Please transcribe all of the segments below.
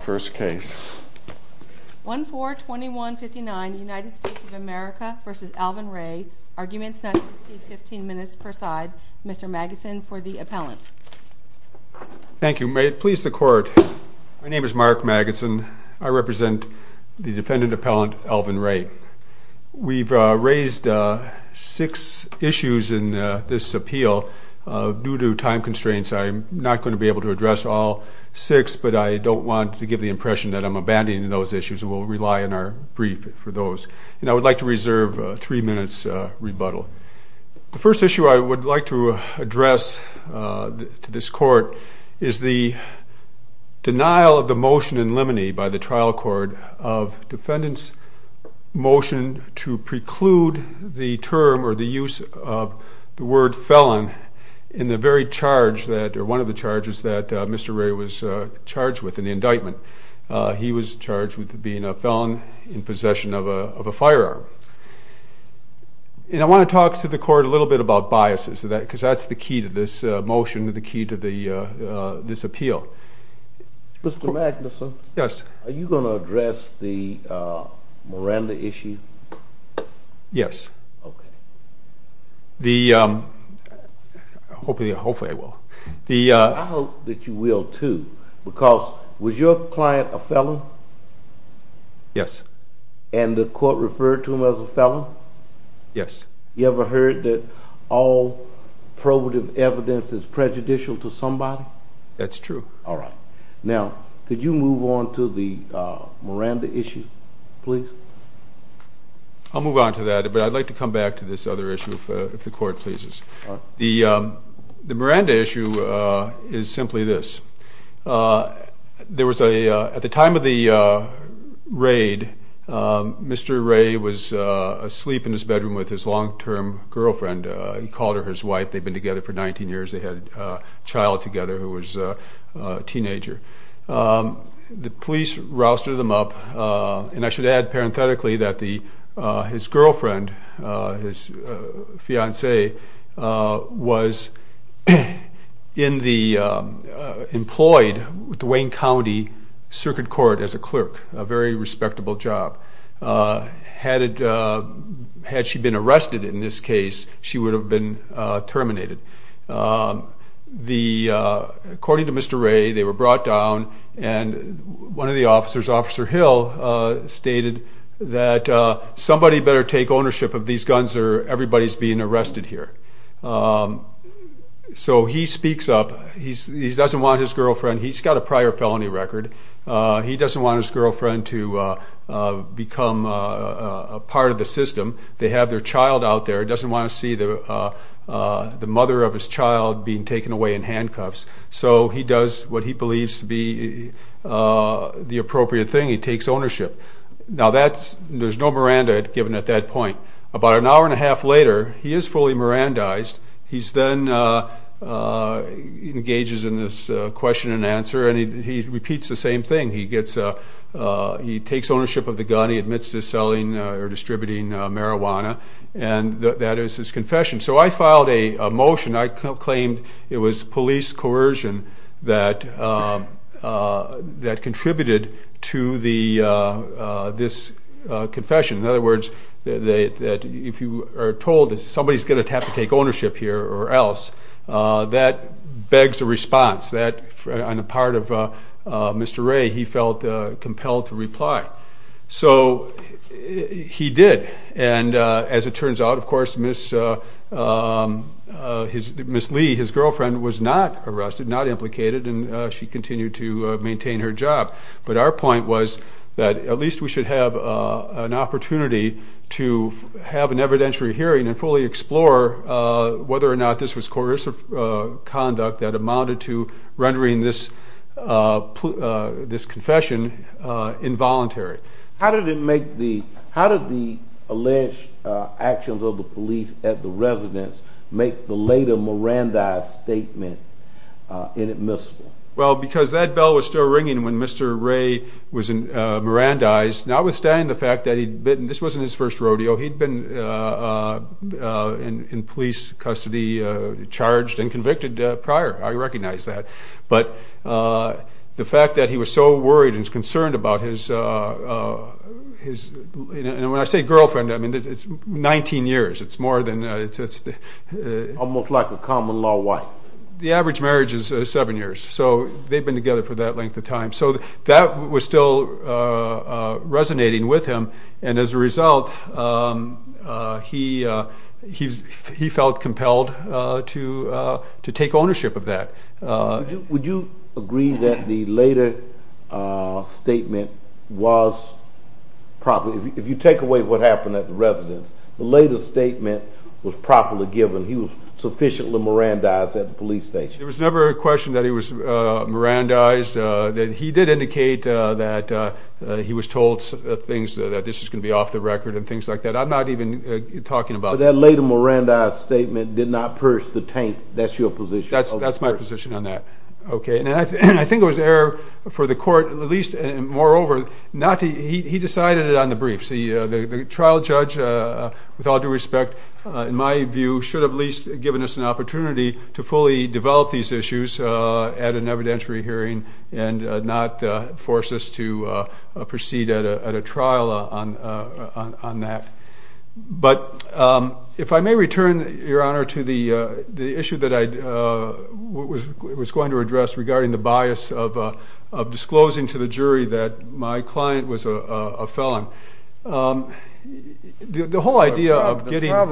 First case. 1-4-21-59 United States of America v. Alvin Ray. Arguments not to proceed 15 minutes per side. Mr. Magidson for the appellant. Thank you. May it please the court. My name is Mark Magidson. I represent the defendant appellant Alvin Ray. We've raised six issues in this appeal due to time constraints. I'm not going to be able to address all six, but I don't want to give the impression that I'm abandoning those issues. We'll rely on our brief for those. And I would like to reserve three minutes rebuttal. The first issue I would like to address to this court is the denial of the motion in limine by the trial court of defendant's motion to preclude the term or the use of the word felon in the very charge that, or one of the charges that Mr. Ray was charged with in the indictment. He was charged with being a felon in possession of a firearm. And I want to talk to the court a little bit about biases, because that's the key to this motion, the key to this appeal. Mr. Magidson. Yes. Are you going to address the Miranda issue? Yes. Okay. Hopefully I will. I hope that you will too, because was your client a felon? Yes. And the court referred to him as a felon? Yes. You ever heard that all probative evidence is prejudicial to somebody? That's true. All right. Now, could you move on to the Miranda issue, please? I'll move on to that, but I'd like to come back to this other issue if the court pleases. The Miranda issue is simply this. There was a, at the time of the raid, Mr. Ray was asleep in his bedroom with his long-term girlfriend. He called her his wife. They'd been together for 19 years. They had a child together who was a teenager. The police rousted them up, and I should add parenthetically that his girlfriend, his fiancée, was employed with the Wayne County Circuit Court as a clerk, a very respectable job. Had she been arrested in this case, she would have been terminated. According to Mr. Ray, they were brought down, and one of the officers, Officer Hill, stated that somebody better take ownership of these guns or everybody's being arrested here. So he speaks up. He doesn't want his girlfriend. He's got a prior felony record. He doesn't want his girlfriend to become a part of the system. They have their child out there. He doesn't want to see the mother of his child being taken away in handcuffs. So he does what he believes to be the appropriate thing. He takes ownership. Now, there's no Miranda given at that point. About an hour and a half later, he is fully Mirandized. He then engages in this question and answer, and he repeats the same thing. He takes ownership of the gun. He admits to selling or distributing marijuana, and that is his confession. So I filed a motion. I claimed it was police coercion that contributed to this confession. In other words, if you are told that somebody's going to have to take ownership here or else, that begs a response. On the part of Mr. Ray, he felt compelled to reply. So he did, and as it turns out, of course, Ms. Lee, his girlfriend, was not arrested, not implicated, and she continued to maintain her job. But our point was that at least we should have an opportunity to have an evidentiary hearing and fully explore whether or not this was coercive conduct that amounted to rendering this confession involuntary. How did the alleged actions of the police at the residence make the later Mirandized statement inadmissible? Well, because that bell was still ringing when Mr. Ray was Mirandized, notwithstanding the fact that this wasn't his first rodeo, he'd been in police custody, charged and convicted prior. I recognize that. But the fact that he was so worried and concerned about his, when I say girlfriend, I mean it's 19 years. It's more than... Almost like a common law wife. Well, the average marriage is seven years, so they've been together for that length of time. So that was still resonating with him, and as a result, he felt compelled to take ownership of that. Would you agree that the later statement was properly, if you take away what happened at the residence, the later statement was properly given, he was sufficiently Mirandized at the police station? There was never a question that he was Mirandized. He did indicate that he was told things, that this was going to be off the record and things like that. I'm not even talking about that. And that later Mirandized statement did not purge the taint. That's your position? That's my position on that. I think it was an error for the court, moreover, he decided it on the briefs. The trial judge, with all due respect, in my view, should have at least given us an opportunity to fully develop these issues at an evidentiary hearing and not force us to proceed at a trial on that. But if I may return, Your Honor, to the issue that I was going to address regarding the bias of disclosing to the jury that my client was a felon. The whole idea of getting- We do have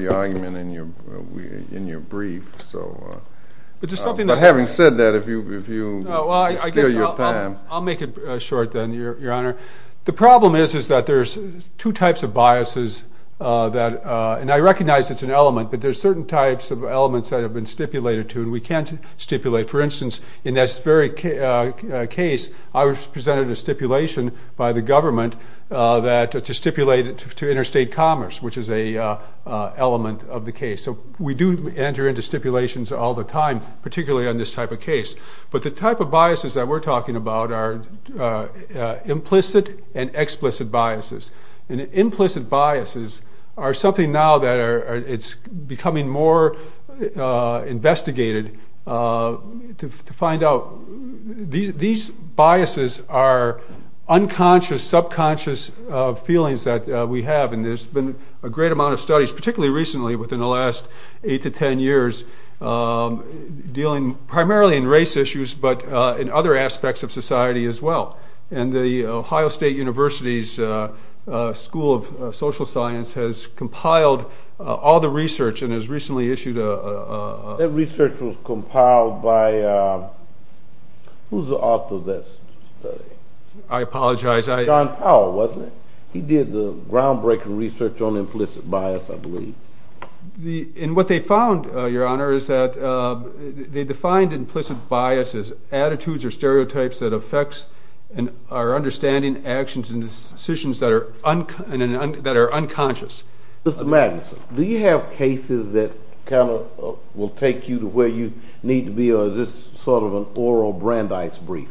your argument in your brief. But having said that, if you steal your time. So we do enter into stipulations all the time, particularly on this type of case. But the type of biases that we're talking about are implicit and explicit biases. And implicit biases are something now that it's becoming more investigated to find out. These biases are unconscious, subconscious feelings that we have. And there's been a great amount of studies, particularly recently within the last eight to ten years, dealing primarily in race issues but in other aspects of society as well. And the Ohio State University's School of Social Science has compiled all the research and has recently issued a- That research was compiled by- who's the author of that study? I apologize, I- And what they found, Your Honor, is that they defined implicit bias as attitudes or stereotypes that affects our understanding, actions, and decisions that are unconscious. Mr. Magnuson, do you have cases that kind of will take you to where you need to be or is this sort of an oral Brandeis brief?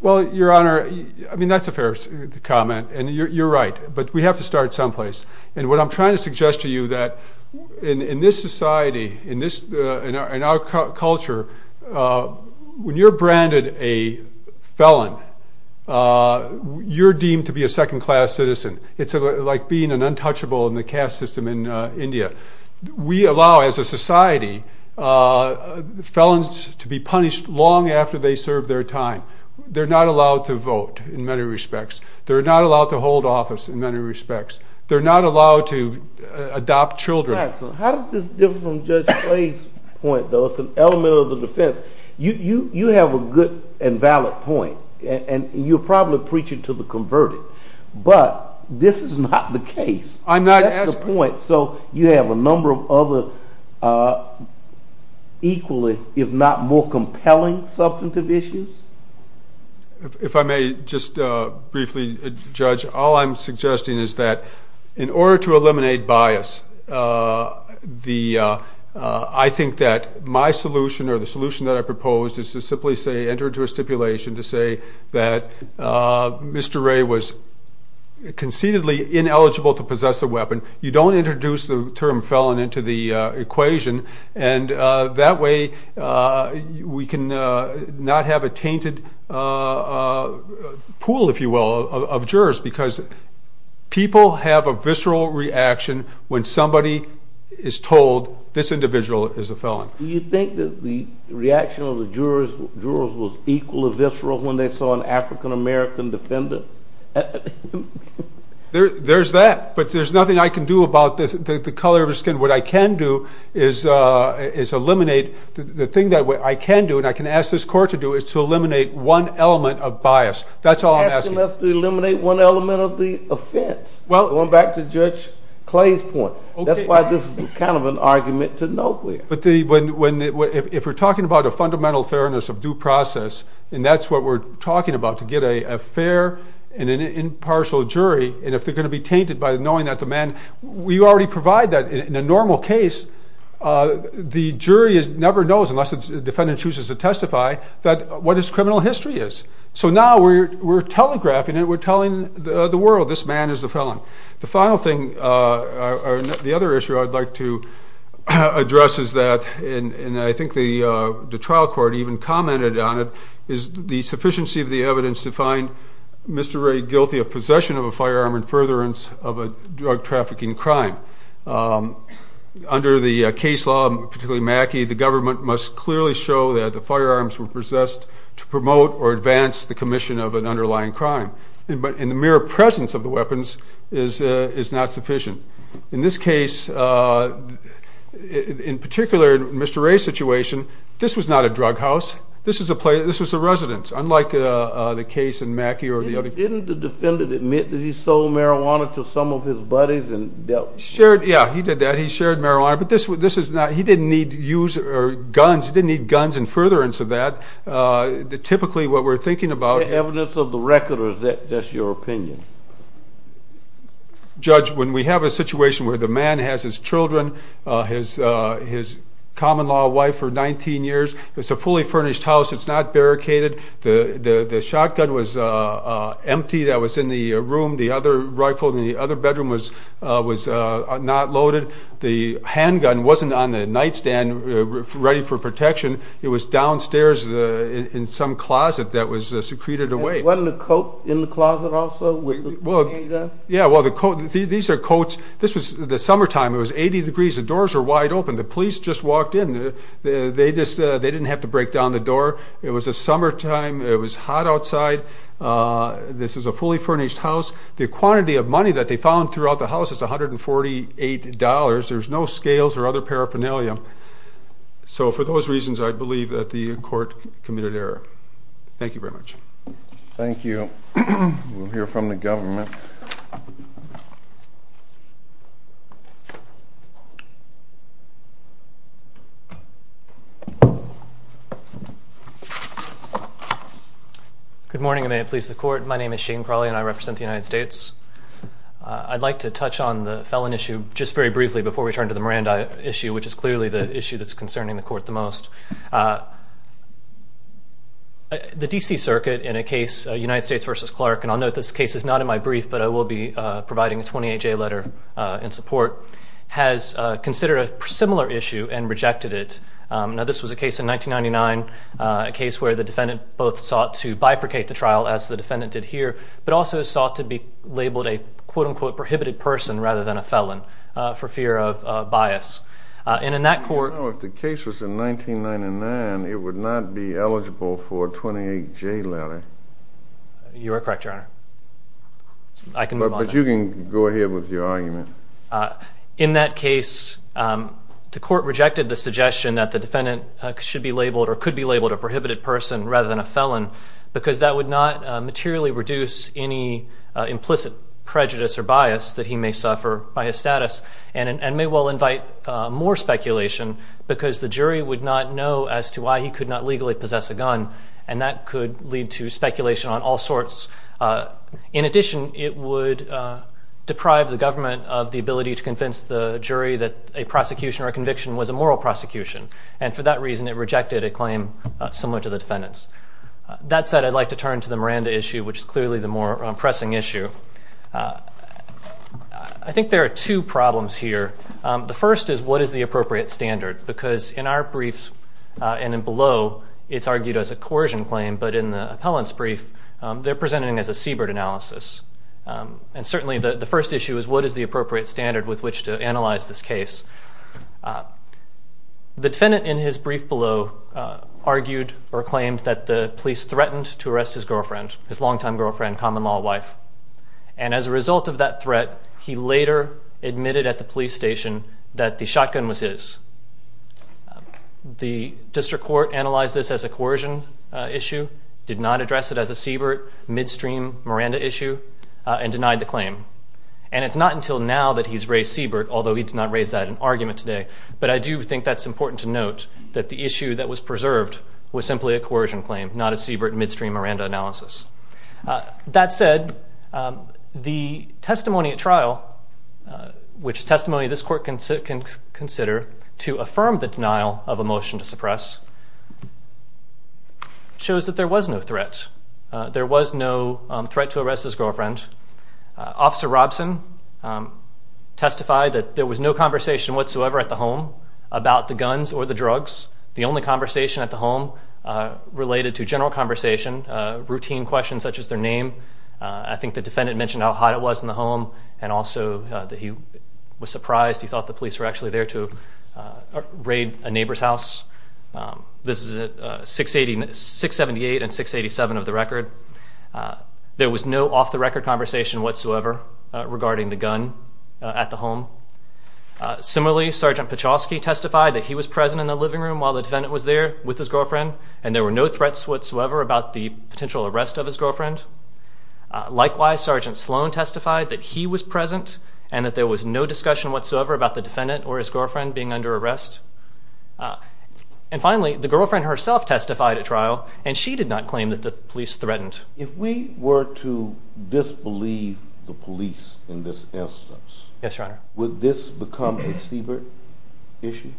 Well, Your Honor, I mean that's a fair comment and you're right, but we have to start someplace. And what I'm trying to suggest to you that in this society, in our culture, when you're branded a felon, you're deemed to be a second-class citizen. It's like being an untouchable in the caste system in India. We allow, as a society, felons to be punished long after they serve their time. They're not allowed to vote, in many respects. They're not allowed to hold office, in many respects. They're not allowed to adopt children. How does this differ from Judge Clay's point, though? It's an element of the defense. You have a good and valid point and you're probably preaching to the converted. But this is not the case. That's the point. So you have a number of other equally, if not more compelling, substantive issues? If I may just briefly, Judge, all I'm suggesting is that in order to eliminate bias, I think that my solution or the solution that I proposed is to simply say, to say that Mr. Ray was conceitedly ineligible to possess a weapon. You don't introduce the term felon into the equation, and that way we can not have a tainted pool, if you will, of jurors. Because people have a visceral reaction when somebody is told, this individual is a felon. Do you think that the reaction of the jurors was equally visceral when they saw an African-American defendant? There's that, but there's nothing I can do about the color of his skin. What I can do is eliminate. The thing that I can do, and I can ask this court to do, is to eliminate one element of bias. That's all I'm asking. You're asking us to eliminate one element of the offense, going back to Judge Clay's point. That's why this is kind of an argument to nowhere. If we're talking about a fundamental fairness of due process, and that's what we're talking about, to get a fair and an impartial jury, and if they're going to be tainted by knowing that the man, we already provide that in a normal case. The jury never knows, unless the defendant chooses to testify, what his criminal history is. So now we're telegraphing it. The final thing, or the other issue I'd like to address is that, and I think the trial court even commented on it, is the sufficiency of the evidence to find Mr. Ray guilty of possession of a firearm and furtherance of a drug trafficking crime. Under the case law, particularly Mackey, the government must clearly show that the firearms were possessed to promote or advance the commission of an underlying crime. But in the mere presence of the weapons is not sufficient. In this case, in particular, Mr. Ray's situation, this was not a drug house. This was a residence, unlike the case in Mackey or the other. Didn't the defendant admit that he sold marijuana to some of his buddies and dealt with them? Yeah, he did that. He shared marijuana, but this is not he didn't need guns. He didn't need guns and furtherance of that. Typically, what we're thinking about is... Evidence of the record, or is that just your opinion? Judge, when we have a situation where the man has his children, his common-law wife for 19 years, it's a fully furnished house. It's not barricaded. The shotgun was empty that was in the room. The other rifle in the other bedroom was not loaded. The handgun wasn't on the nightstand ready for protection. It was downstairs in some closet that was secreted away. Wasn't a coat in the closet also with the handgun? Yeah, well, these are coats. This was the summertime. It was 80 degrees. The doors were wide open. The police just walked in. They didn't have to break down the door. It was the summertime. It was hot outside. This is a fully furnished house. The quantity of money that they found throughout the house is $148. There's no scales or other paraphernalia. So for those reasons, I believe that the court committed error. Thank you very much. Thank you. We'll hear from the government. Good morning, and may it please the Court. My name is Shane Crawley, and I represent the United States. I'd like to touch on the felon issue just very briefly before we turn to the Miranda issue, which is clearly the issue that's concerning the Court the most. The D.C. Circuit, in a case, United States v. Clark, and I'll note this case is not in my brief, but I will be providing a 28-J letter in support, has considered a similar issue and rejected it. Now, this was a case in 1999, a case where the defendant both sought to bifurcate the trial, as the defendant did here, but also sought to be labeled a, quote-unquote, prohibited person rather than a felon for fear of bias. And in that court... Now, if the case was in 1999, it would not be eligible for a 28-J letter. You are correct, Your Honor. I can move on. But you can go ahead with your argument. In that case, the court rejected the suggestion that the defendant should be labeled or could be labeled a prohibited person rather than a felon because that would not materially reduce any implicit prejudice or bias that he may suffer by his status and may well invite more speculation because the jury would not know as to why he could not legally possess a gun, and that could lead to speculation on all sorts. In addition, it would deprive the government of the ability to convince the jury that a prosecution or a conviction was a moral prosecution, and for that reason it rejected a claim similar to the defendant's. That said, I'd like to turn to the Miranda issue, which is clearly the more pressing issue. I think there are two problems here. The first is, what is the appropriate standard? Because in our brief and below, it's argued as a coercion claim, but in the appellant's brief, they're presenting it as a Siebert analysis. And certainly the first issue is, what is the appropriate standard with which to analyze this case? The defendant in his brief below argued or claimed that the police threatened to arrest his girlfriend, his longtime girlfriend, common-law wife, and as a result of that threat, he later admitted at the police station that the shotgun was his. The district court analyzed this as a coercion issue, did not address it as a Siebert, midstream Miranda issue, and denied the claim. And it's not until now that he's raised Siebert, although he did not raise that in argument today, but I do think that's important to note, that the issue that was preserved was simply a coercion claim, not a Siebert, midstream Miranda analysis. That said, the testimony at trial, which is testimony this court can consider, to affirm the denial of a motion to suppress, shows that there was no threat. There was no threat to arrest his girlfriend. Officer Robson testified that there was no conversation whatsoever at the home about the guns or the drugs. The only conversation at the home related to general conversation, routine questions such as their name. I think the defendant mentioned how hot it was in the home and also that he was surprised. He thought the police were actually there to raid a neighbor's house. This is 678 and 687 of the record. There was no off-the-record conversation whatsoever regarding the gun at the home. Similarly, Sergeant Pachoski testified that he was present in the living room while the defendant was there with his girlfriend, and there were no threats whatsoever about the potential arrest of his girlfriend. Likewise, Sergeant Sloan testified that he was present and that there was no discussion whatsoever about the defendant or his girlfriend being under arrest. And finally, the girlfriend herself testified at trial, and she did not claim that the police threatened. If we were to disbelieve the police in this instance, would this become a Siebert issue?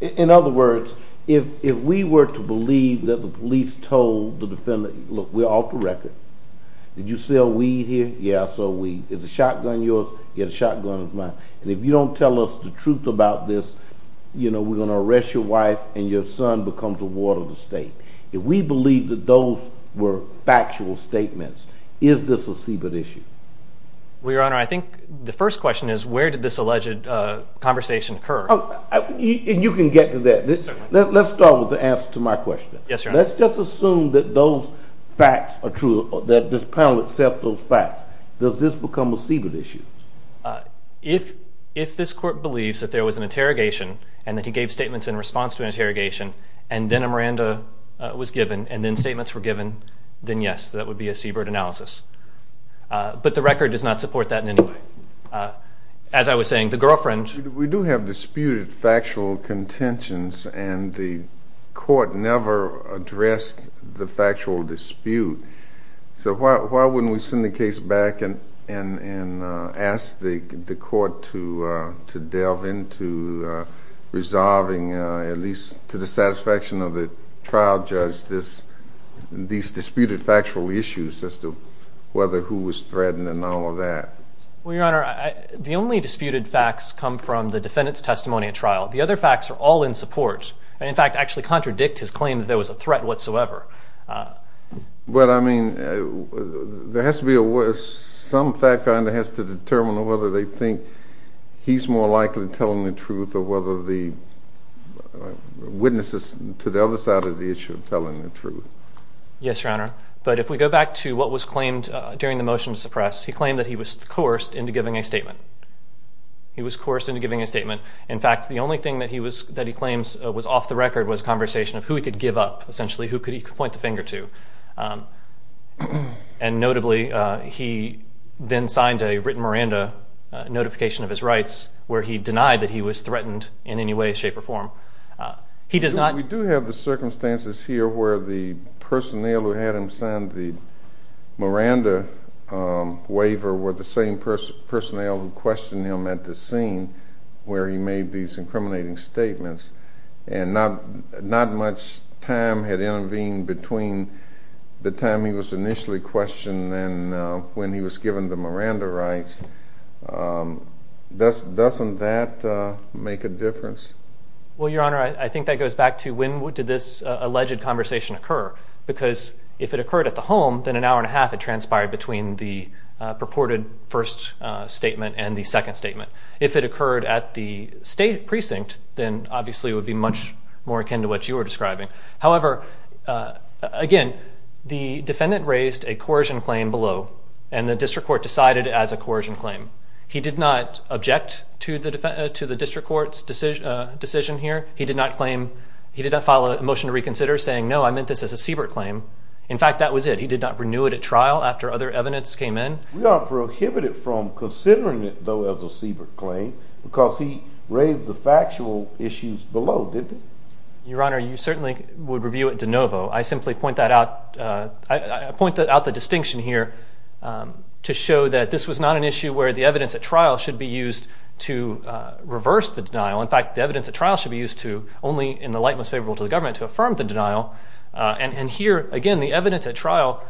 In other words, if we were to believe that the police told the defendant, Look, we're off the record. Did you sell weed here? Yeah, I sold weed. Is the shotgun yours? Yeah, the shotgun is mine. And if you don't tell us the truth about this, you know, we're going to arrest your wife and your son becomes a ward of the state. If we believe that those were factual statements, is this a Siebert issue? Well, Your Honor, I think the first question is where did this alleged conversation occur? You can get to that. Let's start with the answer to my question. Yes, Your Honor. Let's just assume that those facts are true, that this panel accepts those facts. Does this become a Siebert issue? If this court believes that there was an interrogation and that he gave statements in response to an interrogation and then a Miranda was given and then statements were given, then yes, that would be a Siebert analysis. But the record does not support that in any way. As I was saying, the girlfriend... We do have disputed factual contentions and the court never addressed the factual dispute. So why wouldn't we send the case back and ask the court to delve into resolving, at least to the satisfaction of the trial judge, these disputed factual issues as to whether who was threatened and all of that? Well, Your Honor, the only disputed facts come from the defendant's testimony at trial. The other facts are all in support and, in fact, actually contradict his claim that there was a threat whatsoever. But, I mean, there has to be some fact that has to determine whether they think he's more likely telling the truth or whether the witnesses to the other side of the issue are telling the truth. Yes, Your Honor. But if we go back to what was claimed during the motion to suppress, he claimed that he was coerced into giving a statement. He was coerced into giving a statement. In fact, the only thing that he claims was off the record was a conversation of who he could give up, essentially who he could point the finger to. And notably, he then signed a written Miranda notification of his rights where he denied that he was threatened in any way, shape, or form. He does not... were the same personnel who questioned him at the scene where he made these incriminating statements. And not much time had intervened between the time he was initially questioned and when he was given the Miranda rights. Doesn't that make a difference? Well, Your Honor, I think that goes back to when did this alleged conversation occur? Because if it occurred at the home, then an hour and a half had transpired between the purported first statement and the second statement. If it occurred at the state precinct, then obviously it would be much more akin to what you were describing. However, again, the defendant raised a coercion claim below, and the district court decided as a coercion claim. He did not object to the district court's decision here. He did not claim... I meant this as a Siebert claim. In fact, that was it. He did not renew it at trial after other evidence came in. We are prohibited from considering it, though, as a Siebert claim because he raised the factual issues below, didn't he? Your Honor, you certainly would review it de novo. I simply point that out... I point out the distinction here to show that this was not an issue where the evidence at trial should be used to reverse the denial. In fact, the evidence at trial should be used to, only in the light most favorable to the government, to affirm the denial. And here, again, the evidence at trial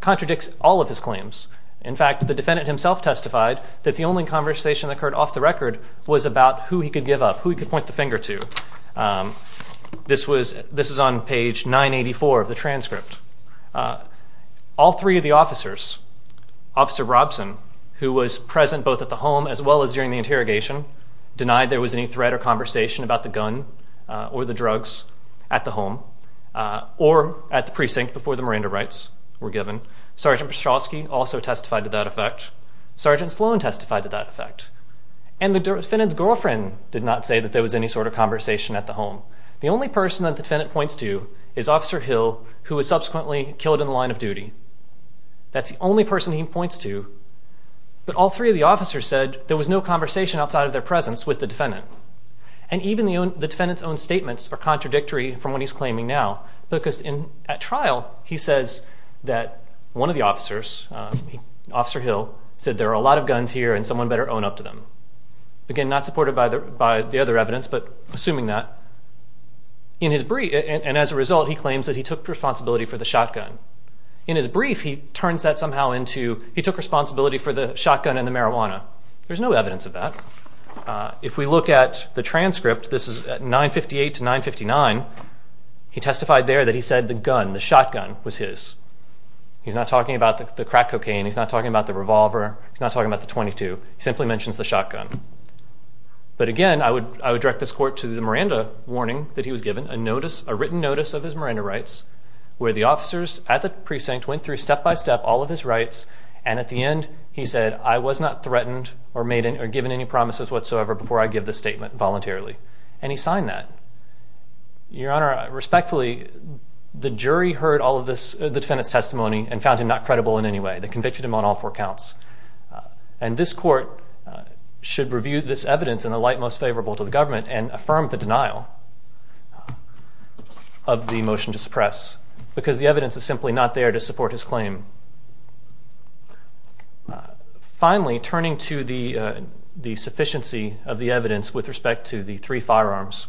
contradicts all of his claims. In fact, the defendant himself testified that the only conversation that occurred off the record was about who he could give up, who he could point the finger to. This is on page 984 of the transcript. All three of the officers, Officer Robson, who was present both at the home as well as during the interrogation, denied there was any threat or conversation about the gun or the drugs at the home or at the precinct before the Miranda rights were given. Sergeant Pszczalski also testified to that effect. Sergeant Sloan testified to that effect. And the defendant's girlfriend did not say that there was any sort of conversation at the home. The only person that the defendant points to is Officer Hill, who was subsequently killed in the line of duty. That's the only person he points to. But all three of the officers said that there was no conversation outside of their presence with the defendant. And even the defendant's own statements are contradictory from what he's claiming now because at trial he says that one of the officers, Officer Hill, said there are a lot of guns here and someone better own up to them. Again, not supported by the other evidence, but assuming that. And as a result, he claims that he took responsibility for the shotgun. In his brief, he turns that somehow into he took responsibility for the shotgun and the marijuana. There's no evidence of that. If we look at the transcript, this is 958 to 959, he testified there that he said the gun, the shotgun, was his. He's not talking about the crack cocaine. He's not talking about the revolver. He's not talking about the .22. He simply mentions the shotgun. But again, I would direct this court to the Miranda warning that he was given, a written notice of his Miranda rights, where the officers at the precinct went through step by step all of his rights, and at the end he said, I was not threatened or given any promises whatsoever before I give this statement voluntarily. And he signed that. Your Honor, respectfully, the jury heard the defendant's testimony and found him not credible in any way. They convicted him on all four counts. And this court should review this evidence and affirm the denial of the motion to suppress because the evidence is simply not there to support his claim. Finally, turning to the sufficiency of the evidence with respect to the three firearms,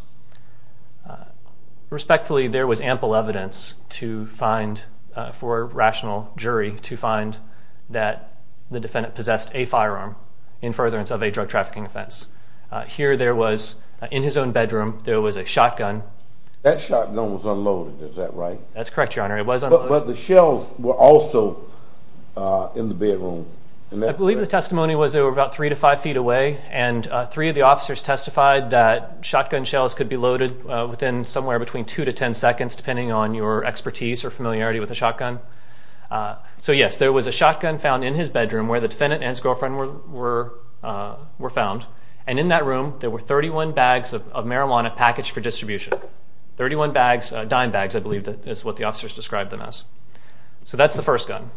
respectfully, there was ample evidence for a rational jury to find that the defendant possessed a firearm in furtherance of a drug trafficking offense. That shotgun was unloaded, is that right? That's correct, Your Honor. It was unloaded. But the shells were also in the bedroom. I believe the testimony was they were about three to five feet away and three of the officers testified that shotgun shells could be loaded within somewhere between two to ten seconds, depending on your expertise or familiarity with a shotgun. So yes, there was a shotgun found in his bedroom where the defendant and his girlfriend were found. And in that room, there were 31 bags of marijuana packaged for distribution. 31 bags, dime bags, I believe is what the officers described them as. So that's the first gun.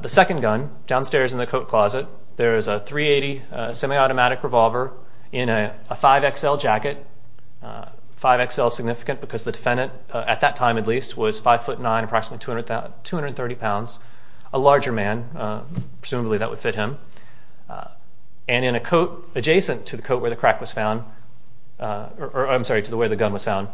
The second gun, downstairs in the coat closet, there is a .380 semi-automatic revolver in a 5XL jacket. 5XL is significant because the defendant, at that time at least, was 5'9", approximately 230 pounds. A larger man, presumably that would fit him. And in a coat adjacent to the coat where the crack was found, or I'm sorry, to the way the gun was found,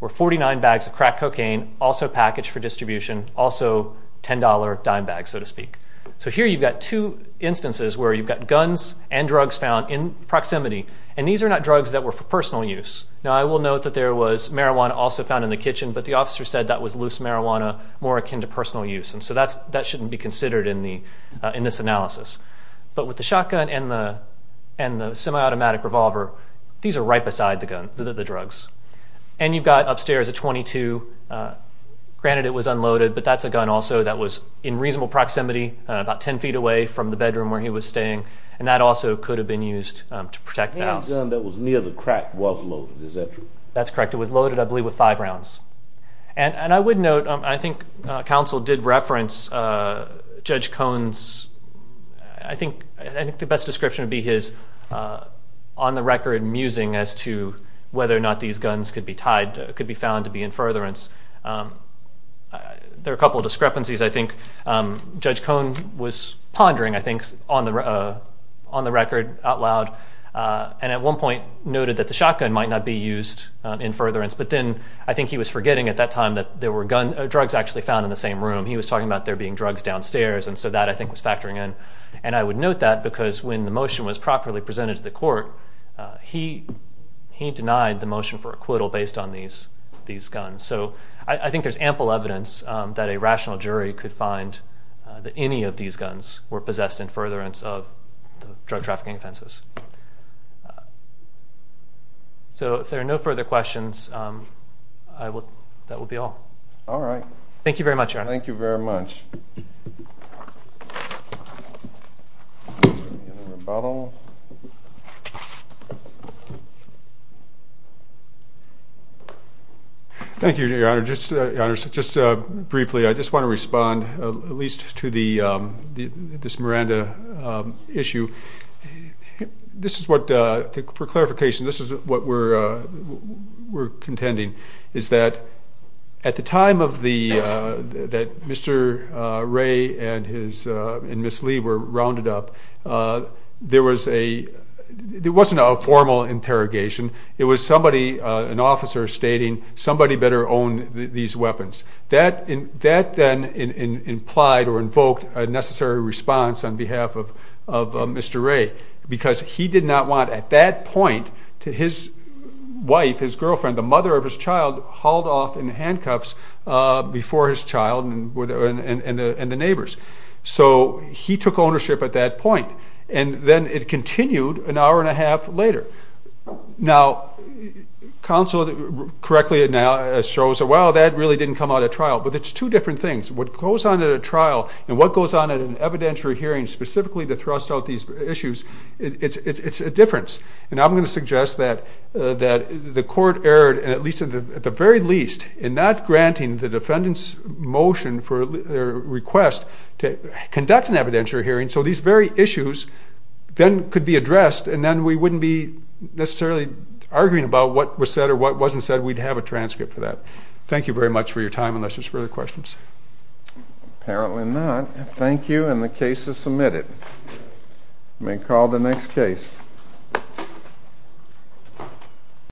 were 49 bags of crack cocaine, also packaged for distribution, also $10 dime bags, so to speak. So here you've got two instances where you've got guns and drugs found in proximity, and these are not drugs that were for personal use. Now I will note that there was marijuana also found in the kitchen, but the officer said that was loose marijuana more akin to personal use, and so that shouldn't be considered in this analysis. But with the shotgun and the semi-automatic revolver, these are right beside the drugs. And you've got upstairs a .22. Granted it was unloaded, but that's a gun also that was in reasonable proximity, about 10 feet away from the bedroom where he was staying, and that also could have been used to protect the house. The only gun that was near the crack was loaded, is that true? That's correct. It was loaded, I believe, with five rounds. And I would note, I think counsel did reference Judge Cone's, I think the best description would be his on-the-record musing as to whether or not these guns could be tied, could be found to be in furtherance. There are a couple of discrepancies, I think. Judge Cone was pondering, I think, on the record out loud, and at one point noted that the shotgun might not be used in furtherance, but then I think he was forgetting at that time that there were drugs actually found in the same room. He was talking about there being drugs downstairs, and so that I think was factoring in. And I would note that because when the motion was properly presented to the court, he denied the motion for acquittal based on these guns. So I think there's ample evidence that a rational jury could find that any of these guns were possessed in furtherance of drug trafficking offenses. So if there are no further questions, that will be all. All right. Thank you very much, Your Honor. Thank you very much. Thank you, Your Honor. Just briefly, I just want to respond at least to this Miranda issue. For clarification, this is what we're contending, is that at the time that Mr. Ray and Ms. Lee were rounded up, there wasn't a formal interrogation. It was somebody, an officer, stating somebody better own these weapons. That then implied or invoked a necessary response on behalf of Mr. Ray because he did not want, at that point, to his wife, his girlfriend, the mother of his child, hauled off in handcuffs before his child and the neighbors. So he took ownership at that point. And then it continued an hour and a half later. Now, counsel correctly shows that, well, that really didn't come out at trial. But it's two different things. What goes on at a trial and what goes on at an evidentiary hearing specifically to thrust out these issues, it's a difference. And I'm going to suggest that the court erred, at least at the very least, in not granting the defendant's motion for their request to conduct an evidentiary hearing so these very issues then could be addressed and then we wouldn't be necessarily arguing about what was said or what wasn't said. We'd have a transcript for that. Thank you very much for your time, unless there's further questions. Apparently not. Thank you, and the case is submitted. You may call the next case.